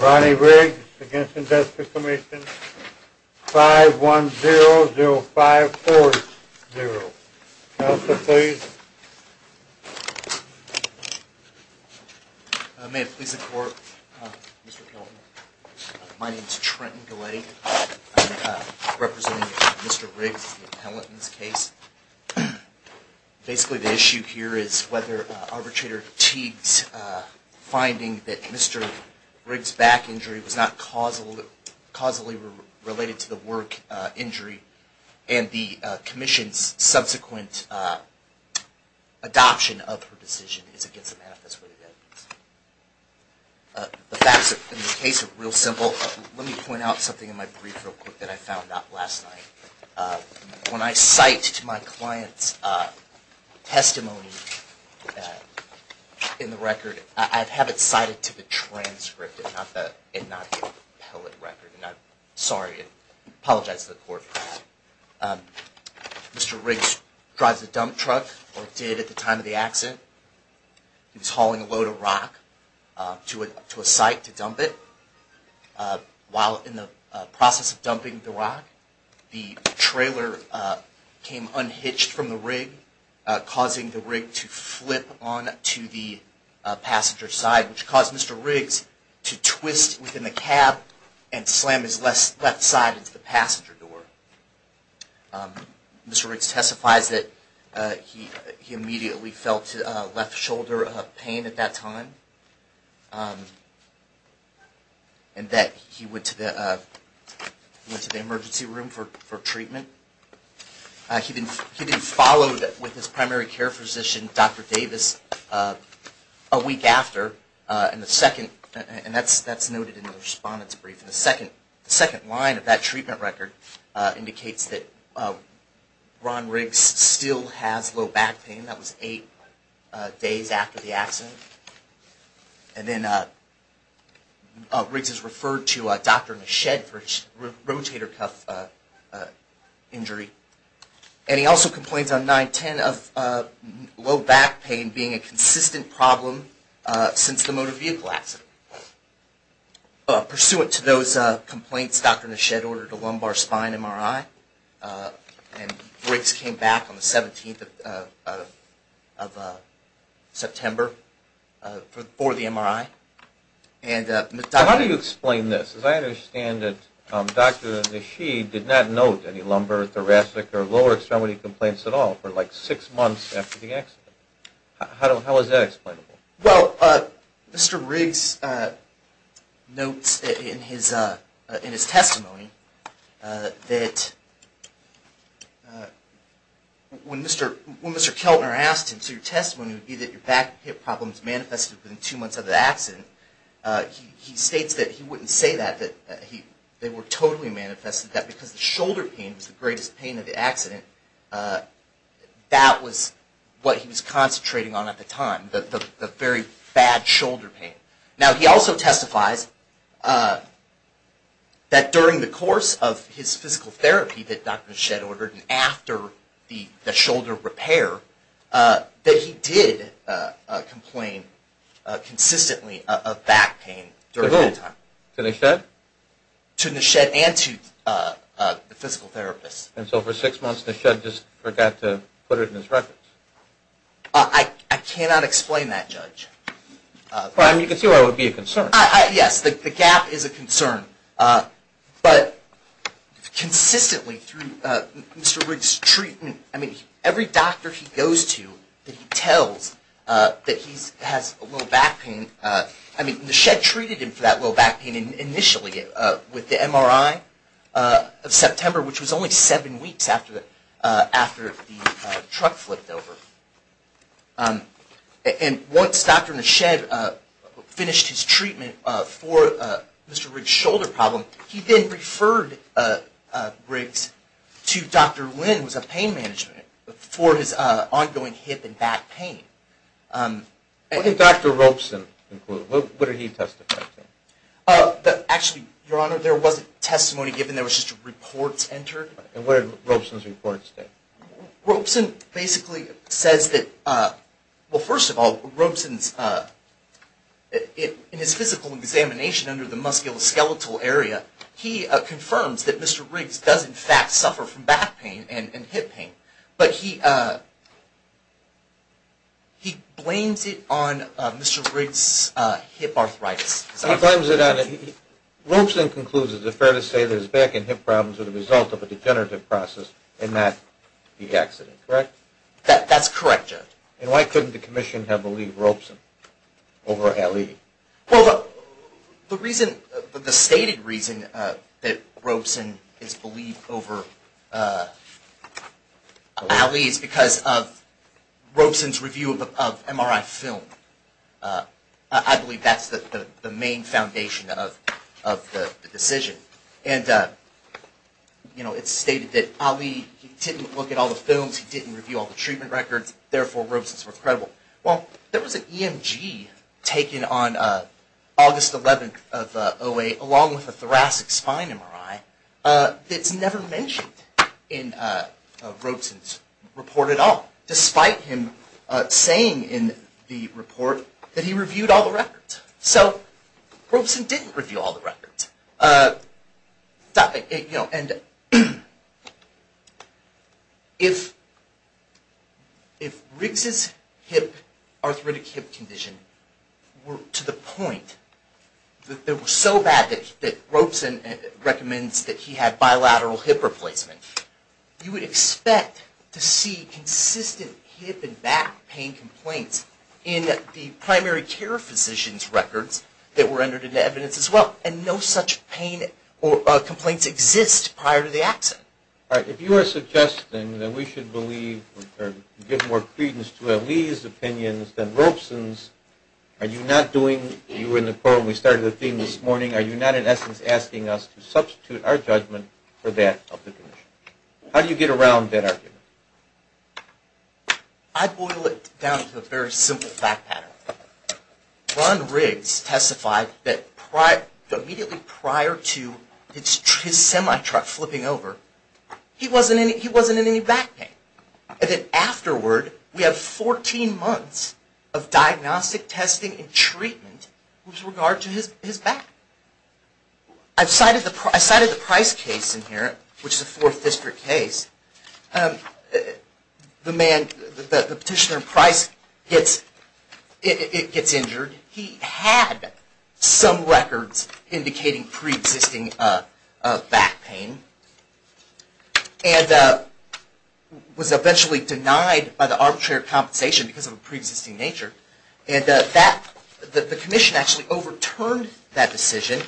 Ronnie Riggs v. Workers' Compensation Commission, 5100540. Counselor, please. May it please the Court, Mr. Pelton. My name is Trenton Galletti. I'm representing Mr. Riggs, the appellant in this case. Basically, the issue here is whether Arbitrator Teague's finding that Mr. Riggs' back injury was not causally related to the work injury and the Commission's subsequent adoption of her decision is against the manifest word of evidence. The facts of this case are real simple. Let me point out something in my brief real quick that I found out last night. When I cite to my client's testimony in the record, I have it cited to the transcript and not the appellate record. Sorry, I apologize to the Court. Mr. Riggs drives a dump truck, or did at the time of the accident. He was hauling a load of rock to a site to dump it. While in the process of dumping the rock, the trailer came unhitched from the rig, causing the rig to flip onto the passenger side, which caused Mr. Riggs to twist within the cab and slam his left side into the passenger door. Mr. Riggs testifies that he immediately felt left shoulder pain at that time and that he went to the emergency room for treatment. He then followed with his primary care physician, Dr. Davis, a week after, and that's noted in the respondent's brief. The second line of that treatment record indicates that Ron Riggs still has low back pain. That was eight days after the accident. And then Riggs is referred to Dr. Machette for rotator cuff injury. And he also complains on 9-10 of low back pain being a consistent problem since the motor vehicle accident. Pursuant to those complaints, Dr. Machette ordered a lumbar spine MRI, and Riggs came back on the 17th of September for the MRI. How do you explain this? As I understand it, Dr. Machette did not note any lumbar, thoracic, or lower extremity complaints at all for like six months after the accident. How is that explainable? Well, Mr. Riggs notes in his testimony that when Mr. Keltner asked him, so your testimony would be that your back hip problems manifested within two months of the accident, he states that he wouldn't say that, that they were totally manifested, that because the shoulder pain was the greatest pain of the accident, that was what he was concentrating on at the time, the very bad shoulder pain. Now, he also testifies that during the course of his physical therapy that Dr. Machette ordered, and after the shoulder repair, that he did complain consistently of back pain during that time. To who? To Machette? To Machette and to the physical therapist. And so for six months, Machette just forgot to put it in his records? I cannot explain that, Judge. Well, I mean, you can see why that would be a concern. Yes, the gap is a concern, but consistently through Mr. Riggs' treatment, I mean, every doctor he goes to that he tells that he has low back pain, I mean, Machette treated him for that low back pain initially with the MRI of September, which was only seven weeks after the truck flipped over. And once Dr. Machette finished his treatment for Mr. Riggs' shoulder problem, he then referred Riggs to Dr. Lin, who was a pain management, for his ongoing hip and back pain. What did Dr. Robeson include? What did he testify to? Actually, Your Honor, there wasn't testimony given, there was just reports entered. And what did Robeson's reports say? Robeson basically says that, well, first of all, Robeson's, in his physical examination under the musculoskeletal area, he confirms that Mr. Riggs does in fact suffer from back pain and hip pain, but he blames it on Mr. Riggs' hip arthritis. He blames it on it. Robeson concludes that it's fair to say that his back and hip problems are the result of a degenerative process and not the accident, correct? That's correct, Your Honor. And why couldn't the commission have believed Robeson over Ali? Well, the reason, the stated reason that Robeson is believed over Ali is because of Robeson's review of MRI film. I believe that's the main foundation of the decision. And, you know, it's stated that Ali, he didn't look at all the films, he didn't review all the treatment records, therefore Robeson's worth credible. Well, there was an EMG taken on August 11th of 2008 along with a thoracic spine MRI that's never mentioned in Robeson's report at all, despite him saying in the report that he reviewed all the records. So Robeson didn't review all the records. And if Riggs' hip, arthritic hip condition were to the point that they were so bad that Robeson recommends that he had bilateral hip replacement, you would expect to see consistent hip and back pain complaints in the primary care physician's records that were entered into evidence as well and no such pain or complaints exist prior to the accident. All right. If you are suggesting that we should believe or give more credence to Ali's opinions than Robeson's, are you not doing, you were in the call when we started the theme this morning, are you not in essence asking us to substitute our judgment for that of the commission? How do you get around that argument? I boil it down to a very simple fact pattern. Ron Riggs testified that immediately prior to his semi-truck flipping over, he wasn't in any back pain. And then afterward, we have 14 months of diagnostic testing and treatment with regard to his back. I cited the Price case in here, which is a Fourth District case. The petitioner Price gets injured. He had some records indicating pre-existing back pain and was eventually denied by the arbitrary compensation because of a pre-existing nature. And the commission actually overturned that decision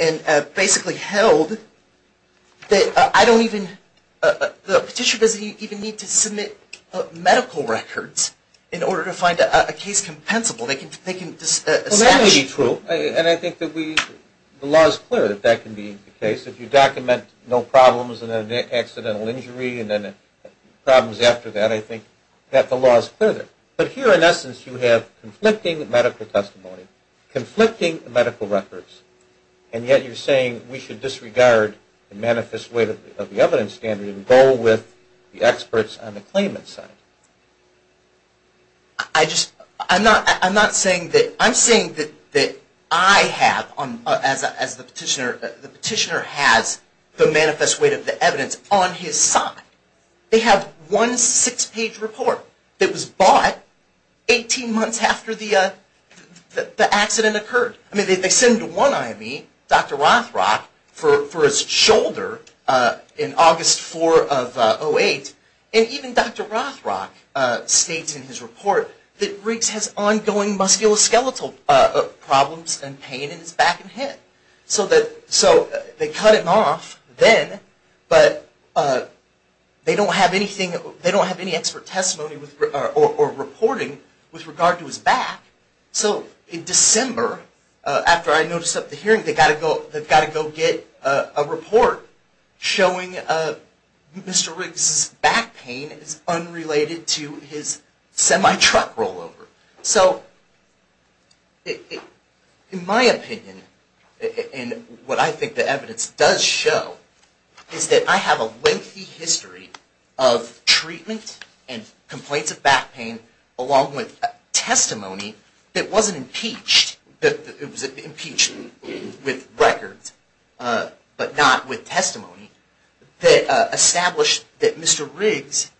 and basically held that I don't even, the petitioner doesn't even need to submit medical records in order to find a case compensable. They can just establish. Well, that may be true. And I think that we, the law is clear that that can be the case. If you document no problems and an accidental injury and then problems after that, I think that the law is clear there. But here, in essence, you have conflicting medical testimony, conflicting medical records, and yet you're saying we should disregard the manifest weight of the evidence standard and go with the experts on the claimant's side. I'm not saying that. I'm saying that I have, as the petitioner has, the manifest weight of the evidence on his side. They have one six-page report that was bought 18 months after the accident occurred. I mean, they send one IME, Dr. Rothrock, for his shoulder in August 4 of 2008. And even Dr. Rothrock states in his report that Riggs has ongoing musculoskeletal problems and pain in his back and hip. So they cut him off then, but they don't have any expert testimony or reporting with regard to his back. So in December, after I noticed at the hearing, they've got to go get a report showing Mr. Riggs' back pain is unrelated to his semi-truck rollover. So in my opinion, and what I think the evidence does show, is that I have a lengthy history of treatment and complaints of back pain, along with testimony that wasn't impeached. It was impeached with records, but not with testimony, that established that Mr. Riggs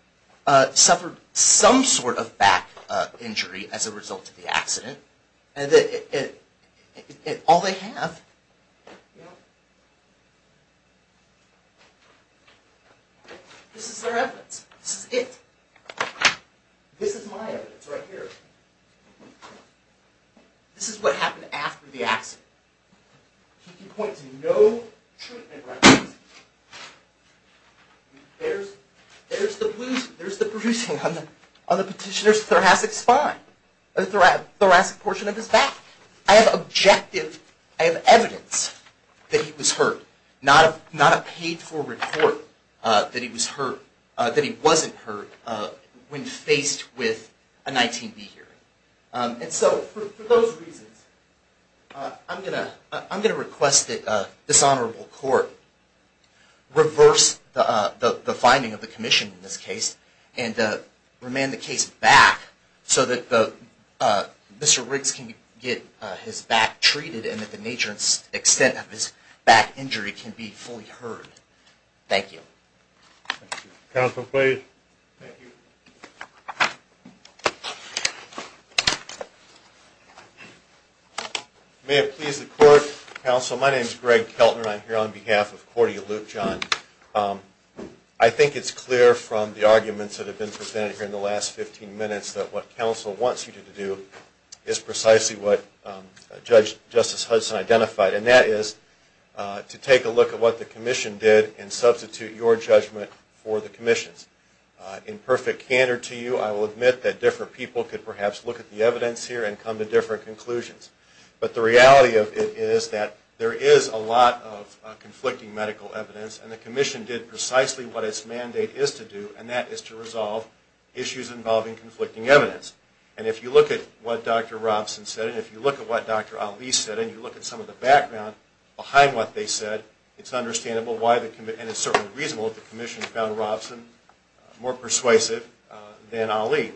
suffered some sort of back injury as a result of the accident. And all they have, this is their evidence. This is it. This is my evidence right here. This is what happened after the accident. He can point to no treatment records. There's the bruising on the petitioner's thoracic spine. The thoracic portion of his back. I have objective, I have evidence that he was hurt. Not a paid-for report that he wasn't hurt when faced with a 19B hearing. And so for those reasons, I'm going to request that this honorable court reverse the finding of the commission in this case, and remand the case back so that Mr. Riggs can get his back treated and that the nature and extent of his back injury can be fully heard. Thank you. Counsel, please. Thank you. May it please the court. Counsel, my name is Greg Keltner. I'm here on behalf of Corte Luke John. I think it's clear from the arguments that have been presented here in the last 15 minutes that what counsel wants you to do is precisely what Justice Hudson identified, and that is to take a look at what the commission did and substitute your judgment for the commission's. In perfect candor to you, I will admit that different people could perhaps look at the evidence here and come to different conclusions. But the reality of it is that there is a lot of conflicting medical evidence, and the commission did precisely what its mandate is to do, and that is to resolve issues involving conflicting evidence. And if you look at what Dr. Robson said, and if you look at what Dr. Ali said, and you look at some of the background behind what they said, it's understandable why the commission, and it's certainly reasonable that the commission found Robson more persuasive than Ali.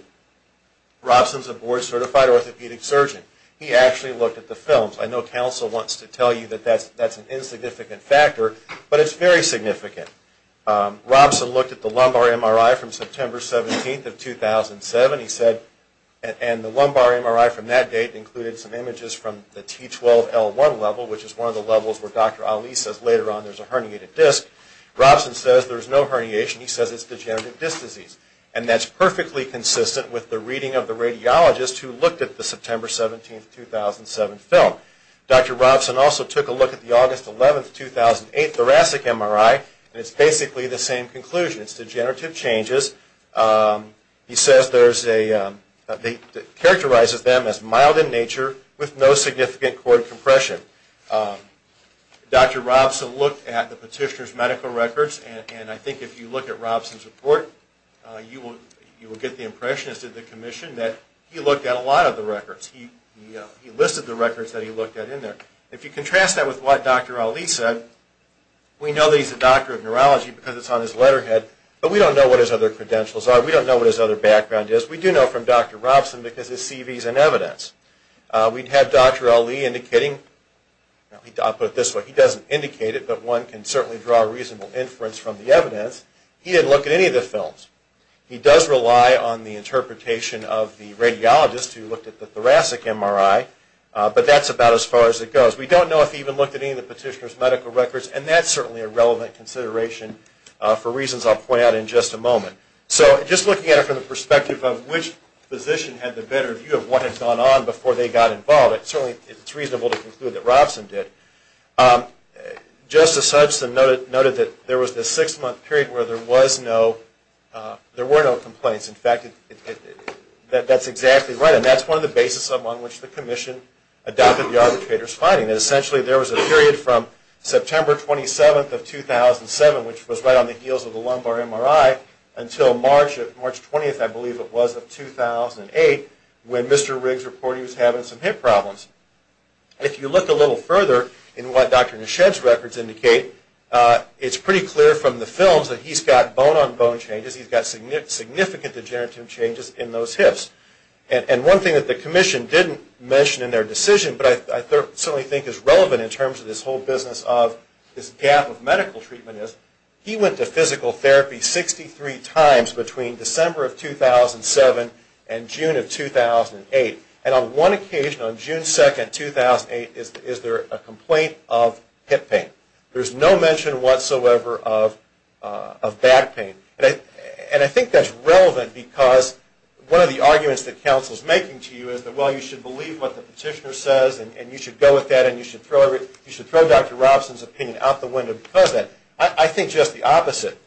Robson's a board-certified orthopedic surgeon. He actually looked at the films. I know counsel wants to tell you that that's an insignificant factor, but it's very significant. Robson looked at the lumbar MRI from September 17th of 2007, he said, and the lumbar MRI from that date included some images from the T12L1 level, which is one of the levels where Dr. Ali says later on there's a herniated disc. Robson says there's no herniation. He says it's degenerative disc disease, and that's perfectly consistent with the reading of the radiologist who looked at the September 17th, 2007 film. Dr. Robson also took a look at the August 11th, 2008 thoracic MRI, and it's basically the same conclusion. It's degenerative changes. He says there's a, characterizes them as mild in nature with no significant cord compression. Dr. Robson looked at the petitioner's medical records, and I think if you look at Robson's report, you will get the impression, as did the commission, that he looked at a lot of the records. He listed the records that he looked at in there. If you contrast that with what Dr. Ali said, we know that he's a doctor of neurology because it's on his letterhead, but we don't know what his other credentials are. We don't know what his other background is. We do know from Dr. Robson because his CV is in evidence. We'd have Dr. Ali indicating, I'll put it this way, he doesn't indicate it, but one can certainly draw a reasonable inference from the evidence. He didn't look at any of the films. He does rely on the interpretation of the radiologist who looked at the thoracic MRI, but that's about as far as it goes. We don't know if he even looked at any of the petitioner's medical records, and that's certainly a relevant consideration for reasons I'll point out in just a moment. So just looking at it from the perspective of which physician had the better view of what had gone on before they got involved, it's certainly reasonable to conclude that Robson did. Justice Hudson noted that there was this six-month period where there were no complaints. In fact, that's exactly right, and that's one of the basis on which the commission adopted the arbitrator's finding, that essentially there was a period from September 27th of 2007, which was right on the heels of the lumbar MRI, until March 20th, I believe it was, of 2008, when Mr. Riggs reported he was having some hip problems. If you look a little further in what Dr. Neshed's records indicate, it's pretty clear from the films that he's got bone-on-bone changes, he's got significant degenerative changes in those hips. And one thing that the commission didn't mention in their decision, but I certainly think is relevant in terms of this whole business of this gap of medical treatment, is he went to physical therapy 63 times between December of 2007 and June of 2008. And on one occasion, on June 2nd, 2008, is there a complaint of hip pain. There's no mention whatsoever of back pain. And I think that's relevant because one of the arguments that counsel's making to you is that, well, you should believe what the petitioner says and you should go with that and you should throw Dr. Robson's opinion out the window because of that. I think just the opposite.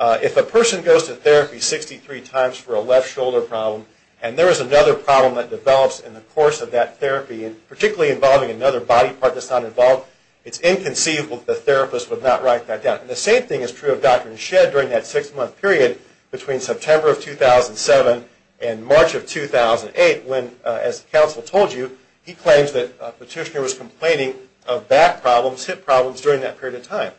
If a person goes to therapy 63 times for a left shoulder problem and there is another problem that develops in the course of that therapy, particularly involving another body part that's not involved, it's inconceivable that the therapist would not write that down. And the same thing is true of Dr. Neshed during that 6-month period between September of 2007 and March of 2008 when, as counsel told you, he claims that a petitioner was complaining of back problems, hip problems during that period of time.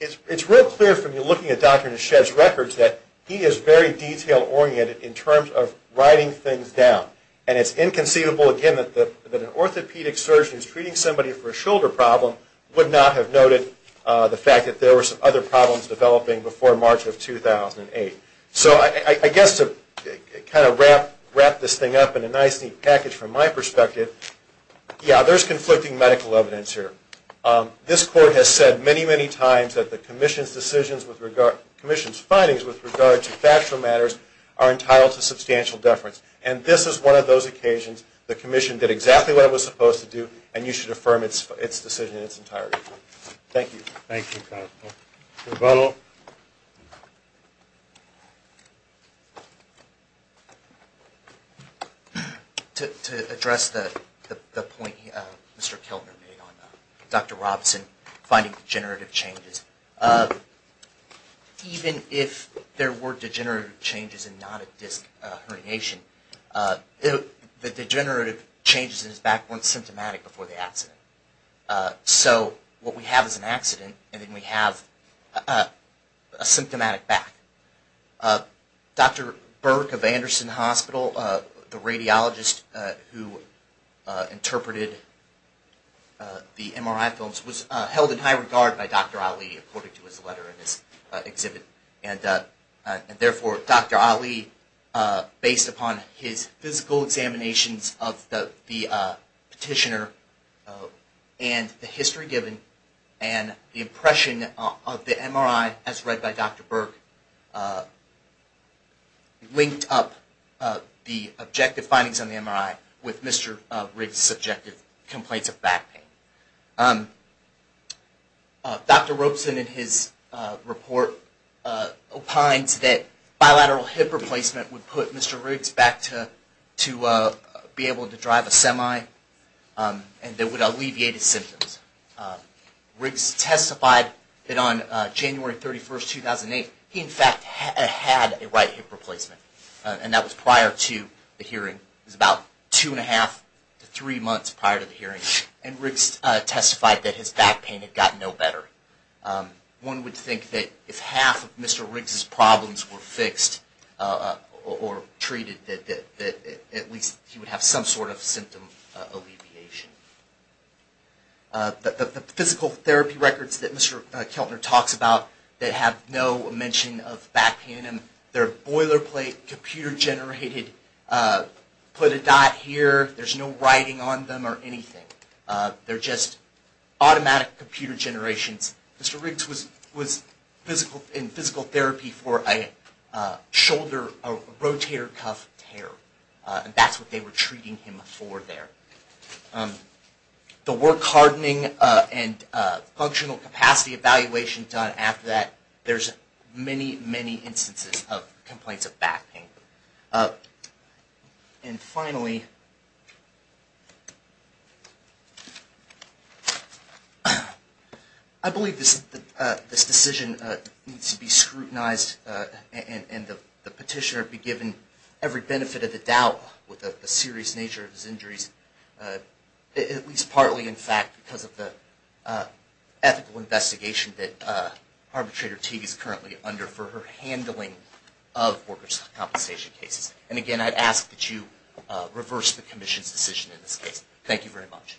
It's real clear from looking at Dr. Neshed's records that he is very detail-oriented in terms of writing things down. And it's inconceivable, again, that an orthopedic surgeon who's treating somebody for a shoulder problem would not have noted the fact that there were some other problems developing before March of 2008. So I guess to kind of wrap this thing up in a nice, neat package from my perspective, yeah, there's conflicting medical evidence here. This Court has said many, many times that the Commission's decisions with regard, Commission's findings with regard to factual matters are entitled to substantial deference. And this is one of those occasions the Commission did exactly what it was supposed to do and you should affirm its decision in its entirety. Thank you. Thank you, counsel. Rebuttal. To address the point Mr. Keltner made on Dr. Robson finding degenerative changes, even if there were degenerative changes and not a disc herniation, the degenerative changes in his back weren't symptomatic before the accident. So what we have is an accident and then we have a symptomatic back. Dr. Burke of Anderson Hospital, the radiologist who interpreted the MRI films, was held in high regard by Dr. Ali according to his letter in his exhibit. And therefore Dr. Ali, based upon his physical examinations of the petitioner and the history given and the impression of the MRI as read by Dr. Burke, linked up the objective findings on the MRI with Mr. Riggs' subjective complaints of back pain. Dr. Robson in his report opines that bilateral hip replacement would put Mr. Riggs back to be able to drive a semi and that it would alleviate his symptoms. Riggs testified that on January 31, 2008, he in fact had a right hip replacement. And that was prior to the hearing. It was about two and a half to three months prior to the hearing. And Riggs testified that his back pain had gotten no better. One would think that if half of Mr. Riggs' problems were fixed or treated, that at least he would have some sort of symptom alleviation. The physical therapy records that Mr. Keltner talks about that have no mention of back pain in them, they're boilerplate, computer generated, put a dot here, there's no writing on them or anything. They're just automatic computer generations. Mr. Riggs was in physical therapy for a shoulder, a rotator cuff tear. And that's what they were treating him for there. The work hardening and functional capacity evaluation done after that, there's many, many instances of complaints of back pain. And finally, I believe this decision needs to be scrutinized and the petitioner be given every benefit of the doubt with the serious nature of his injuries, at least partly in fact because of the ethical investigation that arbitrator Teague is currently under for her handling of workers' compensation cases. And again, I'd ask that you reverse the commission's decision in this case. Thank you very much.